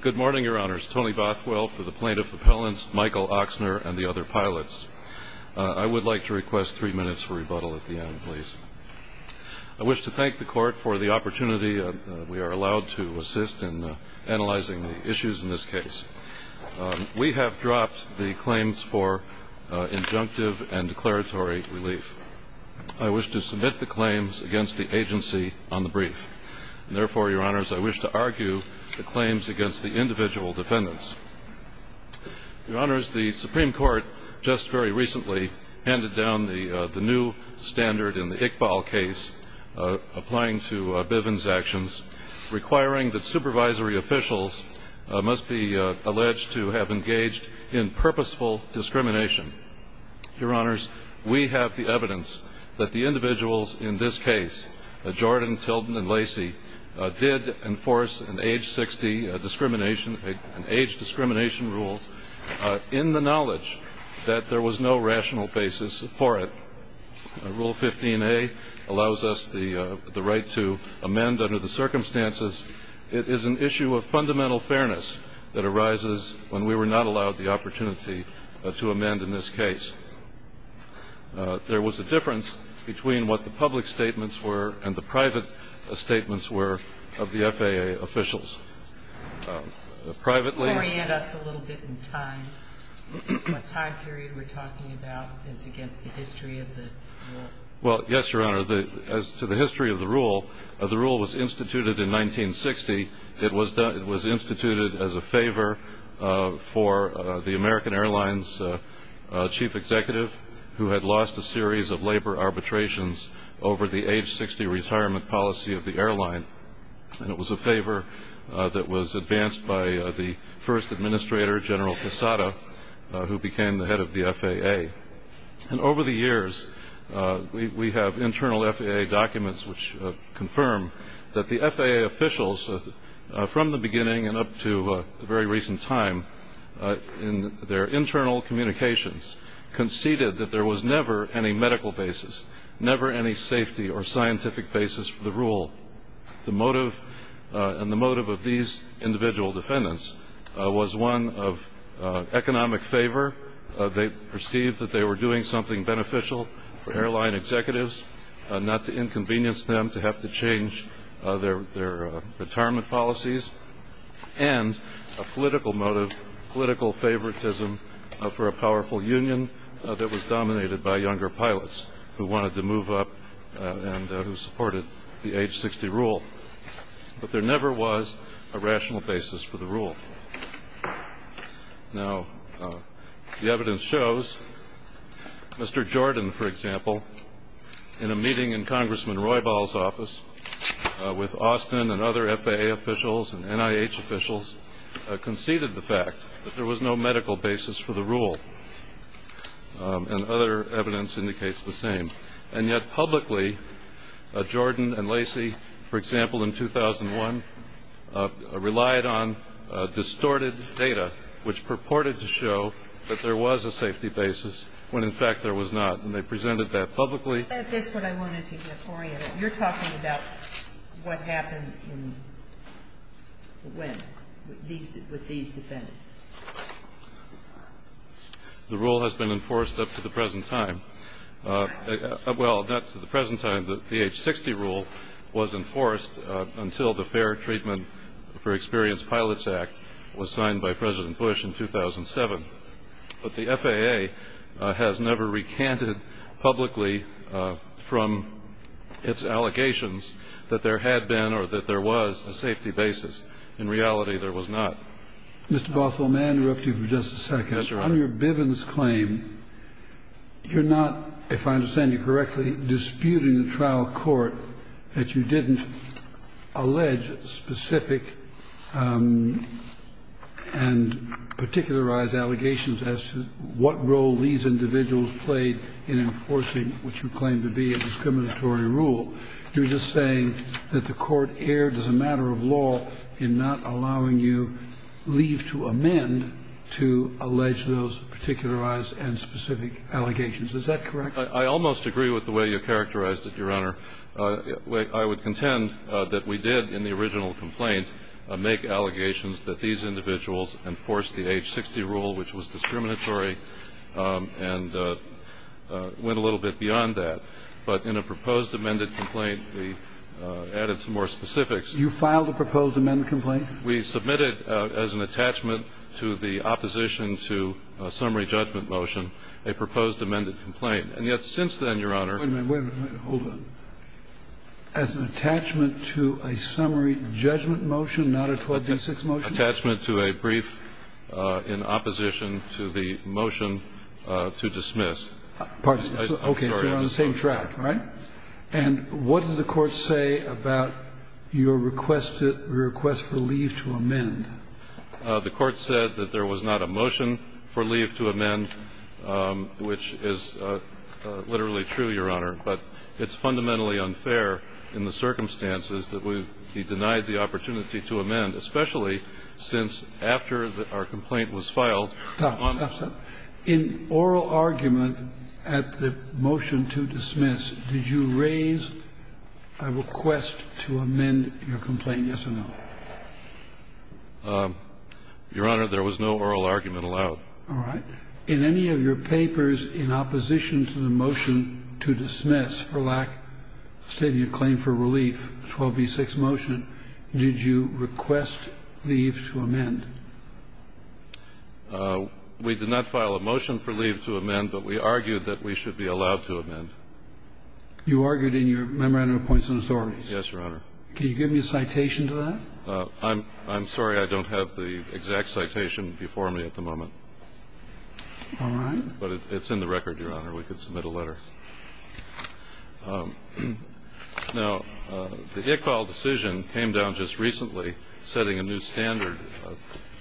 Good morning, Your Honors. Tony Bothwell for the plaintiff appellants, Michael Oksner and the other pilots. I would like to request three minutes for rebuttal at the end, please. I wish to thank the Court for the opportunity we are allowed to assist in analyzing the issues in this case. We have dropped the claims for injunctive and declaratory relief. I wish to submit the claims against the agency on the brief. Therefore, Your Honors, I wish to argue the claims against the individual defendants. Your Honors, the Supreme Court just very recently handed down the new standard in the Iqbal case, applying to Bivens' actions, requiring that supervisory officials must be alleged to have engaged in purposeful discrimination. Your Honors, we have the evidence that the individuals in this case, Jordan, Tilden, and Lacey, did enforce an age 60 discrimination, an age discrimination rule, in the knowledge that there was no rational basis for it. Rule 15A allows us the right to amend under the circumstances. It is an issue of fundamental fairness that arises when we were not allowed the opportunity to amend in this case. There was a difference between what the public statements were and the private statements were of the FAA officials. Privately ñ Can you orient us a little bit in time? What time period we're talking about is against the history of the rule. Well, yes, Your Honor, as to the history of the rule, the rule was instituted in 1960. It was instituted as a favor for the American Airlines chief executive, who had lost a series of labor arbitrations over the age 60 retirement policy of the airline. And it was a favor that was advanced by the first administrator, General Quesada, who became the head of the FAA. And over the years, we have internal FAA documents which confirm that the FAA officials, from the beginning and up to a very recent time, in their internal communications conceded that there was never any medical basis, never any safety or scientific basis for the rule. The motive of these individual defendants was one of economic favor. They perceived that they were doing something beneficial for airline executives, not to inconvenience them to have to change their retirement policies, and a political motive, political favoritism for a powerful union that was dominated by younger pilots who wanted to move up and who supported the age 60 rule. But there never was a rational basis for the rule. Now, the evidence shows Mr. Jordan, for example, in a meeting in Congressman Roybal's office with Austin and other FAA officials and NIH officials, conceded the fact that there was no medical basis for the rule. And other evidence indicates the same. And yet publicly, Jordan and Lacey, for example, in 2001, relied on distorted data which purported to show that there was a safety basis when, in fact, there was not. And they presented that publicly. That's what I wanted to get for you. You're talking about what happened when, with these defendants. The rule has been enforced up to the present time. Well, not to the present time. The age 60 rule was enforced until the Fair Treatment for Experienced Pilots Act was signed by President Bush in 2007. But the FAA has never recanted publicly from its allegations that there had been or that there was a safety basis. In reality, there was not. Mr. Bothell, may I interrupt you for just a second? Yes, Your Honor. On your Bivens claim, you're not, if I understand you correctly, disputing the trial court that you didn't allege specific and particularized allegations as to what role these individuals played in enforcing what you claim to be a discriminatory rule. You're just saying that the court erred as a matter of law in not allowing you leave to amend to allege those particularized and specific allegations. Is that correct? I almost agree with the way you characterized it, Your Honor. I would contend that we did, in the original complaint, make allegations that these individuals enforced the age 60 rule, which was discriminatory, and went a little bit beyond that. But in a proposed amended complaint, we added some more specifics. You filed a proposed amended complaint? We submitted, as an attachment to the opposition to a summary judgment motion, a proposed amended complaint. And yet since then, Your Honor — Wait a minute. Wait a minute. Hold on. As an attachment to a summary judgment motion, not a 26 motion? Attachment to a brief in opposition to the motion to dismiss. Pardon? Okay. So you're on the same track, right? And what did the Court say about your request for leave to amend? The Court said that there was not a motion for leave to amend, which is literally true, Your Honor, but it's fundamentally unfair in the circumstances that we've denied the opportunity to amend, especially since after our complaint was filed. Stop, stop, stop. In oral argument at the motion to dismiss, did you raise a request to amend your complaint, yes or no? Your Honor, there was no oral argument allowed. All right. In any of your papers in opposition to the motion to dismiss for lack of stating a claim for relief, 12b6 motion, did you request leave to amend? We did not file a motion for leave to amend, but we argued that we should be allowed to amend. You argued in your memorandum of points and assortments? Yes, Your Honor. Can you give me a citation to that? I'm sorry. I don't have the exact citation before me at the moment. All right. But it's in the record, Your Honor. We could submit a letter. Now, the Iqbal decision came down just recently, setting a new standard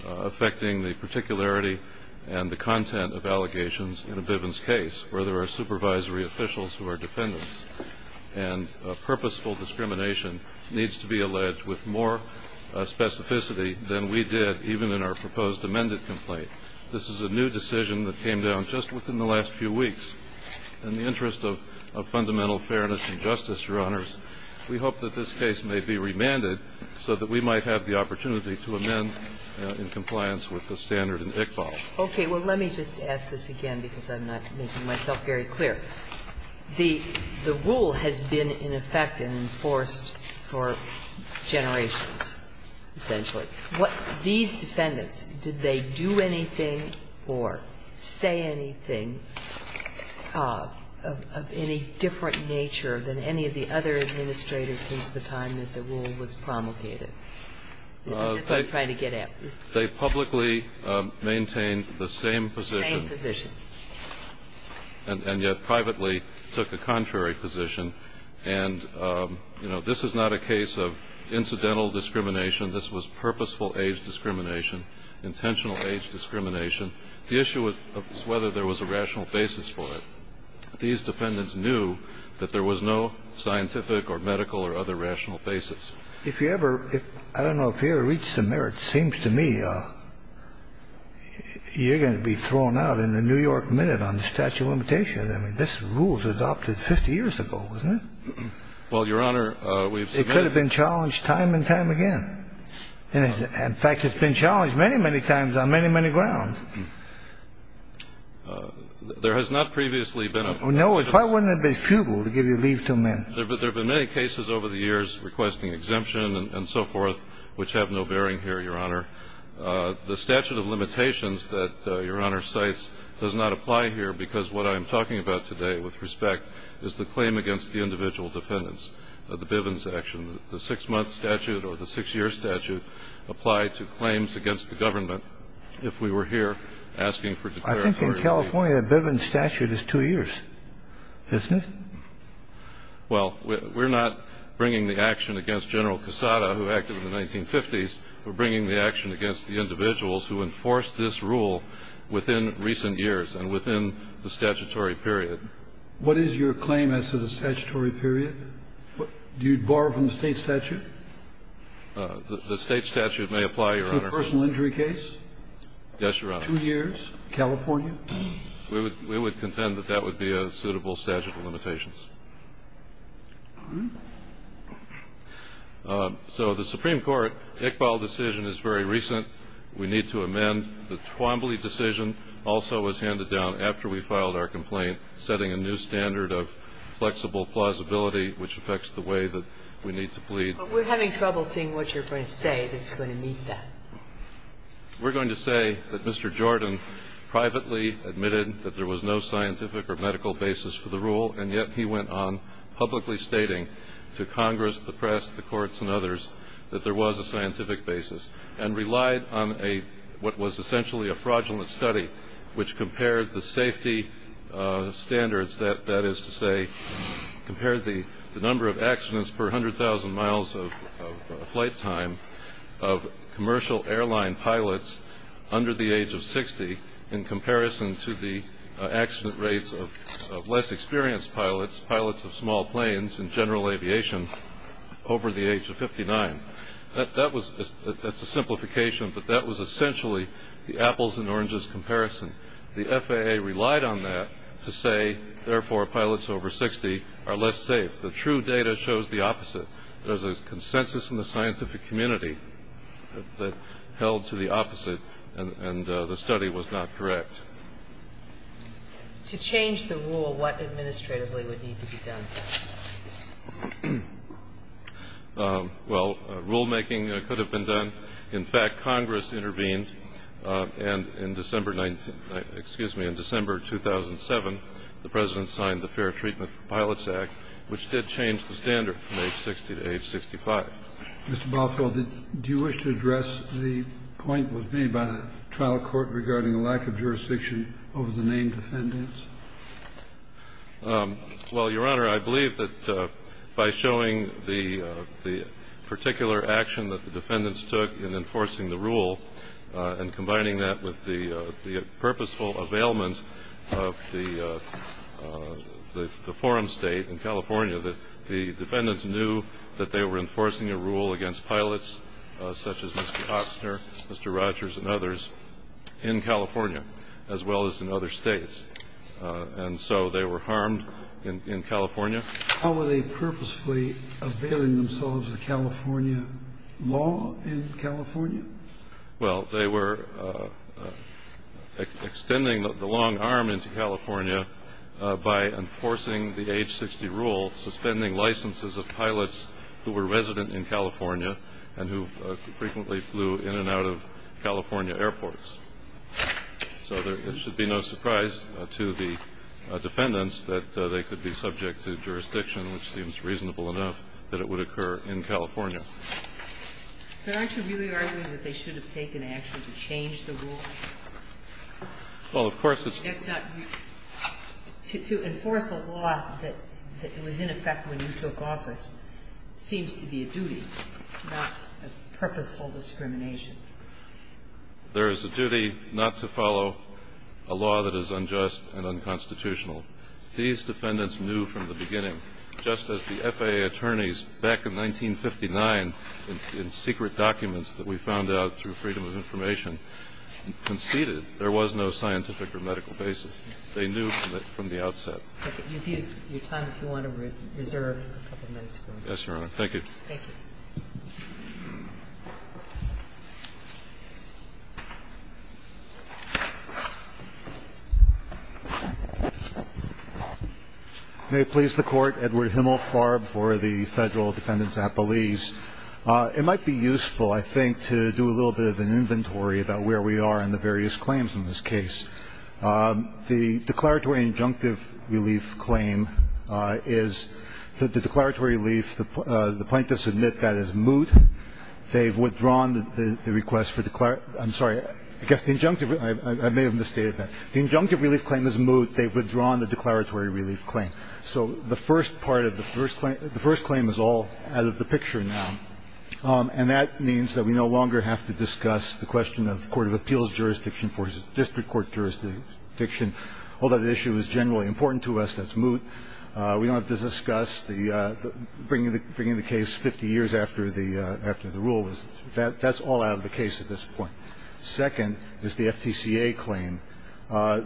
affecting the particularity and the content of allegations in a Bivens case where there are supervisory officials who are defendants. And purposeful discrimination needs to be alleged with more specificity than we did even in our proposed amended complaint. This is a new decision that came down just within the last few weeks. In the interest of fundamental fairness and justice, Your Honors, we hope that this case may be remanded so that we might have the opportunity to amend in compliance with the standard in Iqbal. Okay. Well, let me just ask this again because I'm not making myself very clear. The rule has been in effect and enforced for generations, essentially. These defendants, did they do anything or say anything of any different nature than any of the other administrators since the time that the rule was promulgated? That's what I'm trying to get at. They publicly maintained the same position. Same position. And yet privately took a contrary position. And, you know, this is not a case of incidental discrimination. This was purposeful age discrimination, intentional age discrimination. The issue was whether there was a rational basis for it. These defendants knew that there was no scientific or medical or other rational basis. If you ever ‑‑ I don't know if you ever reached the merits, it seems to me you're going to be thrown out in the New York Minute on the statute of limitations. I mean, this rule was adopted 50 years ago, wasn't it? Well, Your Honor, we've submitted ‑‑ It could have been challenged time and time again. In fact, it's been challenged many, many times on many, many grounds. There has not previously been a ‑‑ Why wouldn't it have been futile to give you leave to amend? There have been many cases over the years requesting exemption and so forth, which have no bearing here, Your Honor. The statute of limitations that Your Honor cites does not apply here because what I'm talking about today with respect is the claim against the individual defendants, the Bivens action. The six‑month statute or the six‑year statute applied to claims against the government. If we were here asking for declaratory ‑‑ I think in California the Bivens statute is two years, isn't it? Well, we're not bringing the action against General Quesada, who acted in the 1950s. We're bringing the action against the individuals who enforced this rule within recent years and within the statutory period. What is your claim as to the statutory period? Do you borrow from the state statute? The state statute may apply, Your Honor. To a personal injury case? Yes, Your Honor. Two years, California? We would contend that that would be a suitable statute of limitations. All right. So the Supreme Court Iqbal decision is very recent. We need to amend the Twombly decision, which affects the way that we need to plead. But we're having trouble seeing what you're going to say that's going to meet that. We're going to say that Mr. Jordan privately admitted that there was no scientific or medical basis for the rule, and yet he went on publicly stating to Congress, the press, the courts and others that there was a scientific basis, and relied on a ‑‑ what was essentially a fraudulent study, which compared the safety standards, that is to say, compared the number of accidents per 100,000 miles of flight time of commercial airline pilots under the age of 60 in comparison to the accident rates of less experienced pilots, pilots of small planes and general aviation over the age of 59. That was ‑‑ that's a simplification, but that was essentially the apples and oranges comparison. The FAA relied on that to say, therefore, pilots over 60 are less safe. The true data shows the opposite. There's a consensus in the scientific community that held to the opposite, and the study was not correct. To change the rule, what administratively would need to be done? Well, rulemaking could have been done. In fact, Congress intervened, and in December ‑‑ excuse me, in December 2007, the President signed the Fair Treatment for Pilots Act, which did change the standard from age 60 to age 65. Mr. Bothell, do you wish to address the point that was made by the trial court regarding the lack of jurisdiction over the named defendants? Well, Your Honor, I believe that by showing the particular action that the defendants took in enforcing the rule and combining that with the purposeful availment of the forum state in California, the defendants knew that they were enforcing a rule against pilots such as Mr. Oxner, Mr. Rogers, and others in California as well as in other states. And so they were harmed in California. How were they purposefully availing themselves of California law in California? Well, they were extending the long arm into California by enforcing the age 60 rule, suspending licenses of pilots who were resident in California and who frequently flew in and out of California airports. So there should be no surprise to the defendants that they could be subject to jurisdiction which seems reasonable enough that it would occur in California. But aren't you really arguing that they should have taken action to change the rule? Well, of course it's not. To enforce a law that was in effect when you took office seems to be a duty, not a purposeful discrimination. There is a duty not to follow a law that is unjust and unconstitutional. These defendants knew from the beginning. Just as the FAA attorneys back in 1959 in secret documents that we found out through Freedom of Information conceded there was no scientific or medical basis. They knew from the outset. Your time, if you want to reserve a couple minutes. Yes, Your Honor. Thank you. Thank you. Thank you. May it please the Court. Edward Himmelfarb for the Federal Defendant's Appellees. It might be useful, I think, to do a little bit of an inventory about where we are in the various claims in this case. The declaratory injunctive relief claim is that the declaratory relief, the plaintiffs admit that is moot. They've withdrawn the request for declaratory. I'm sorry. I guess the injunctive, I may have misstated that. The injunctive relief claim is moot. They've withdrawn the declaratory relief claim. So the first part of the first claim, the first claim is all out of the picture now. And that means that we no longer have to discuss the question of court of appeals jurisdiction versus district court jurisdiction. Although the issue is generally important to us, that's moot. We don't have to discuss the bringing the case 50 years after the rule. That's all out of the case at this point. Second is the FTCA claim.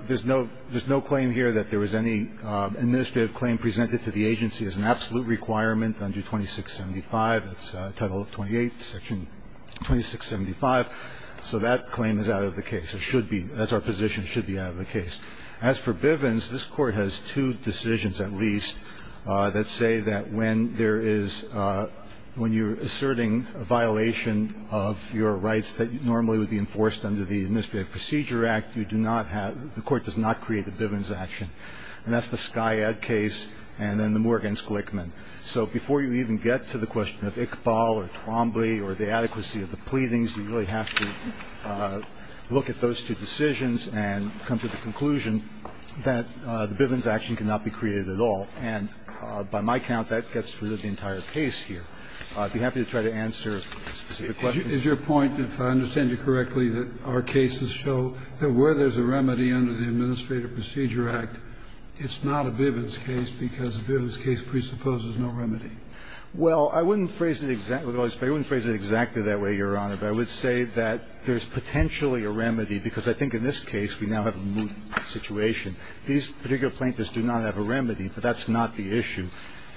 There's no claim here that there was any administrative claim presented to the agency as an absolute requirement under 2675. That's Title 28, Section 2675. So that claim is out of the case. It should be. That's our position. It should be out of the case. As for Bivens, this Court has two decisions at least that say that when there is when you're asserting a violation of your rights that normally would be enforced under the Administrative Procedure Act, you do not have the Court does not create a Bivens action. And that's the Skyad case and then the Morgan-Sklikman. So before you even get to the question of Iqbal or Twombly or the adequacy of the that the Bivens action cannot be created at all. And by my count, that gets rid of the entire case here. I'd be happy to try to answer specific questions. Is your point, if I understand you correctly, that our cases show that where there's a remedy under the Administrative Procedure Act, it's not a Bivens case because a Bivens case presupposes no remedy? Well, I wouldn't phrase it exactly that way, Your Honor, but I would say that there's These particular plaintiffs do not have a remedy, but that's not the issue.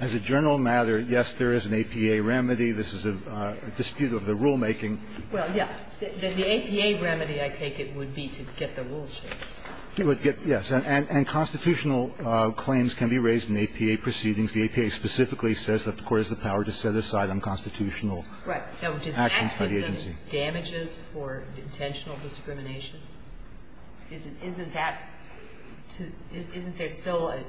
As a general matter, yes, there is an APA remedy. This is a dispute of the rulemaking. Well, yes. The APA remedy, I take it, would be to get the rules changed. Yes. And constitutional claims can be raised in APA proceedings. The APA specifically says that the Court has the power to set aside unconstitutional actions by the agency. Right. Now, does that give them damages for intentional discrimination? Isn't that to – isn't there still a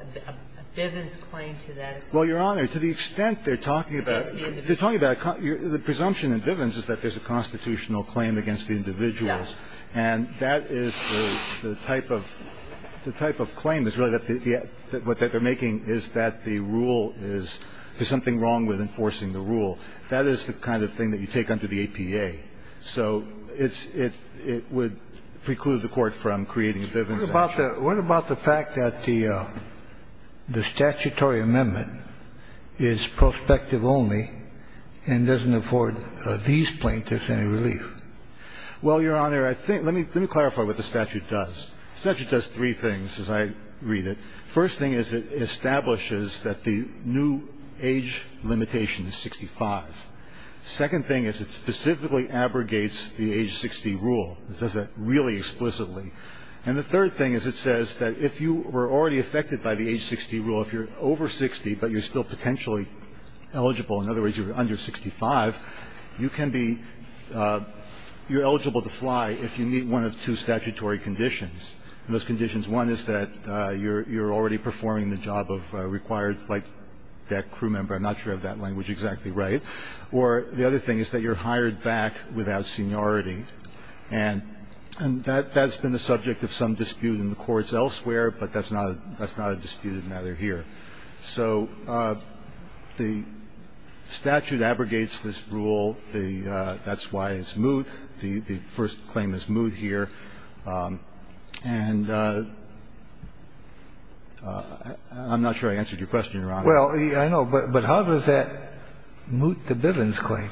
Bivens claim to that? Well, Your Honor, to the extent they're talking about – Against the individual. They're talking about – the presumption in Bivens is that there's a constitutional claim against the individuals. Yes. And that is the type of – the type of claim is really that the – what they're making is that the rule is – there's something wrong with enforcing the rule. That is the kind of thing that you take under the APA. So it's – it would preclude the Court from creating a Bivens action. What about the fact that the statutory amendment is prospective only and doesn't afford these plaintiffs any relief? Well, Your Honor, I think – let me clarify what the statute does. The statute does three things, as I read it. First thing is it establishes that the new age limitation is 65. Second thing is it specifically abrogates the age 60 rule. It does that really explicitly. And the third thing is it says that if you were already affected by the age 60 rule, if you're over 60 but you're still potentially eligible – in other words, you're under 65 – you can be – you're eligible to fly if you meet one of two statutory conditions. And those conditions – one is that you're already performing the job of required flight deck crew member. I'm not sure if that language is exactly right. Or the other thing is that you're hired back without seniority. And that's been the subject of some dispute in the courts elsewhere, but that's not a disputed matter here. So the statute abrogates this rule. That's why it's moot. The first claim is moot here. And I'm not sure I answered your question, Your Honor. Well, I know. But how does that moot the Bivens claim?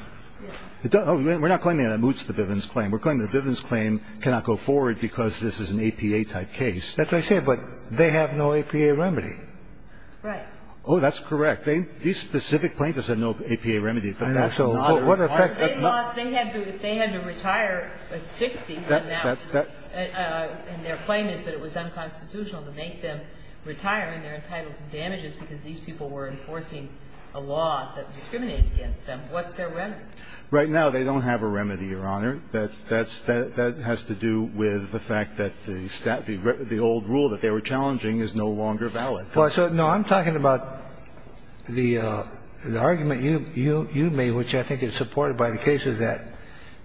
We're not claiming that it moots the Bivens claim. We're claiming the Bivens claim cannot go forward because this is an APA-type case. That's what I said. But they have no APA remedy. Right. Oh, that's correct. These specific plaintiffs have no APA remedy. I know. So what effect does it have? They had to retire at 60, and their claim is that it was unconstitutional to make them retire, and they're entitled to damages because these people were enforcing a law that discriminated against them. What's their remedy? Right now, they don't have a remedy, Your Honor. That has to do with the fact that the old rule that they were challenging is no longer valid. Well, so, no, I'm talking about the argument you made, which I think is supported by the cases that,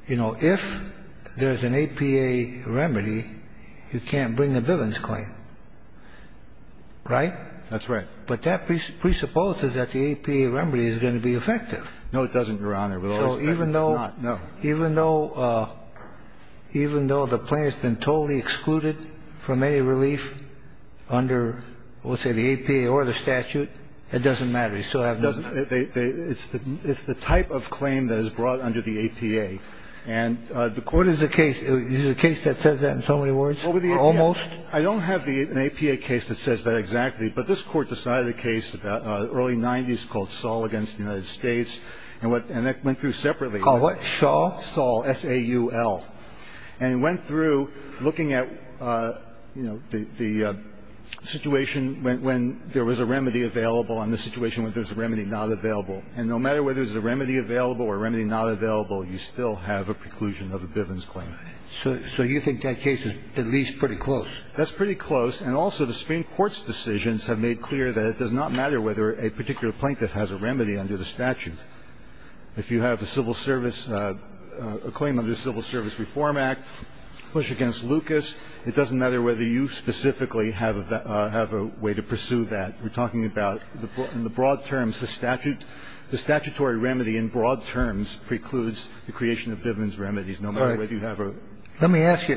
you know, if there's an APA remedy, you can't bring a Bivens claim, right? That's right. But that presupposes that the APA remedy is going to be effective. No, it doesn't, Your Honor. With all respect, it's not. So even though the plaintiff's been totally excluded from any relief under, let's say, the APA or the statute, it doesn't matter. They still have no remedy. It's the type of claim that is brought under the APA. And the court is a case that says that in so many words, almost. I don't have an APA case that says that exactly, but this court decided a case in the early 90s called Saul against the United States, and that went through separately. Called what? Saul? Saul, S-A-U-L. And it went through looking at, you know, the situation when there was a remedy available and the situation when there's a remedy not available. And no matter whether there's a remedy available or a remedy not available, you still have a preclusion of a Bivens claim. So you think that case is at least pretty close? That's pretty close. And also, the Supreme Court's decisions have made clear that it does not matter whether a particular plaintiff has a remedy under the statute. If you have a civil service, a claim under the Civil Service Reform Act, push against Lucas, it doesn't matter whether you specifically have a way to pursue that. We're talking about in the broad terms. The statutory remedy in broad terms precludes the creation of Bivens remedies, no matter whether you have a remedy. Let me ask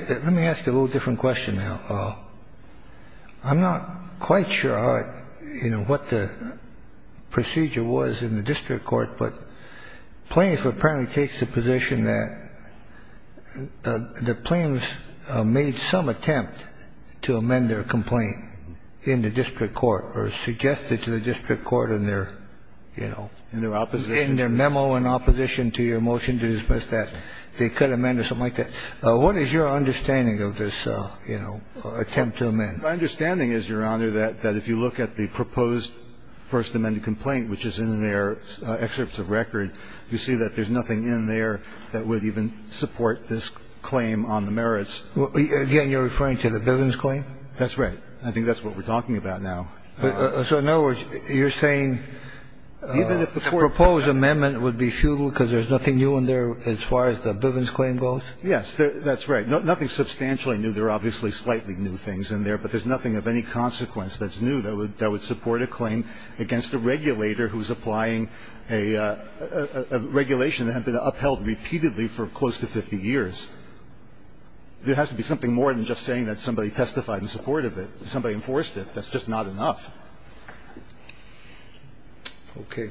you a little different question now. I'm not quite sure, you know, what the procedure was in the district court, but plaintiff apparently takes the position that the plaintiffs made some attempt to amend their claim. And they have suggested to the district court in their, you know, in their memo in opposition to your motion to dismiss that they could amend or something like that. What is your understanding of this, you know, attempt to amend? My understanding is, Your Honor, that if you look at the proposed first amended complaint, which is in their excerpts of record, you see that there's nothing in there that would even support this claim on the merits. Again, you're referring to the Bivens claim? That's right. I think that's what we're talking about now. So in other words, you're saying the proposed amendment would be futile because there's nothing new in there as far as the Bivens claim goes? Yes, that's right. Nothing substantially new. There are obviously slightly new things in there, but there's nothing of any consequence that's new that would support a claim against a regulator who's applying a regulation that had been upheld repeatedly for close to 50 years. There has to be something more than just saying that somebody testified in support of it, somebody enforced it. That's just not enough. Okay.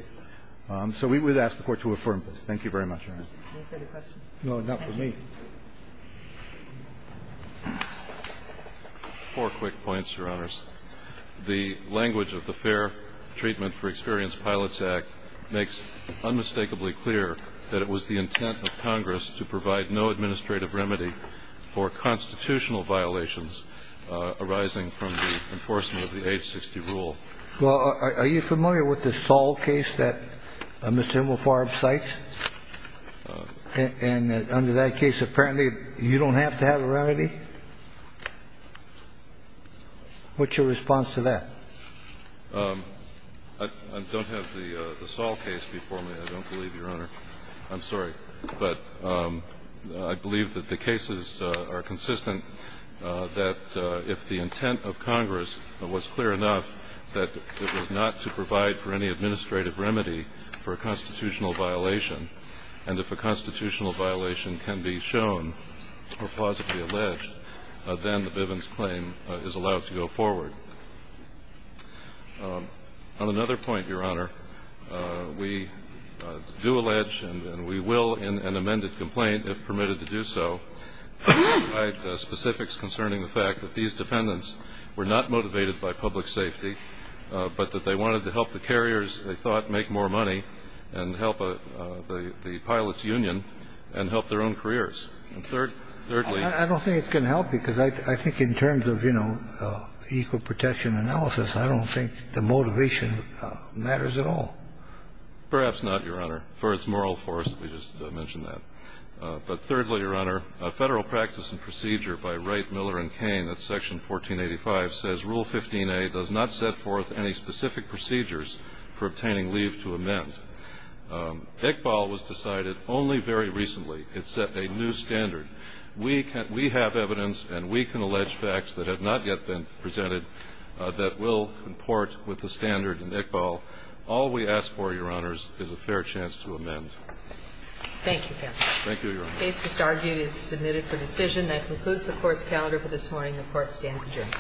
So we would ask the Court to affirm this. Thank you very much, Your Honor. Any further questions? No, not for me. Four quick points, Your Honors. The language of the Fair Treatment for Experienced Pilots Act makes unmistakably clear that it was the intent of Congress to provide no administrative remedy for constitutional violations arising from the enforcement of the Age 60 rule. Well, are you familiar with the Saul case that Mr. Wilford cites? And under that case, apparently you don't have to have a remedy? What's your response to that? I don't have the Saul case before me. I don't believe, Your Honor. I'm sorry. But I believe that the cases are consistent, that if the intent of Congress was clear enough that it was not to provide for any administrative remedy for a constitutional violation, and if a constitutional violation can be shown or plausibly alleged, then the Bivens claim is allowed to go forward. On another point, Your Honor, we do allege, and we will in an amended complaint if permitted to do so, provide specifics concerning the fact that these defendants were not motivated by public safety, but that they wanted to help the carriers they thought make more money and help the pilots union and help their own careers. And thirdly ---- I don't think it's going to help, because I think in terms of, you know, equal protection analysis, I don't think the motivation matters at all. Perhaps not, Your Honor, for its moral force. We just mentioned that. But thirdly, Your Honor, a Federal practice and procedure by Wright, Miller and Cain at Section 1485 says Rule 15a does not set forth any specific procedures for obtaining leave to amend. Iqbal was decided only very recently. It set a new standard. We have evidence and we can allege facts that have not yet been presented that will comport with the standard in Iqbal. All we ask for, Your Honors, is a fair chance to amend. Thank you, counsel. Thank you, Your Honor. The case just argued is submitted for decision. That concludes the Court's calendar for this morning. The Court stands adjourned. The Court is adjourned.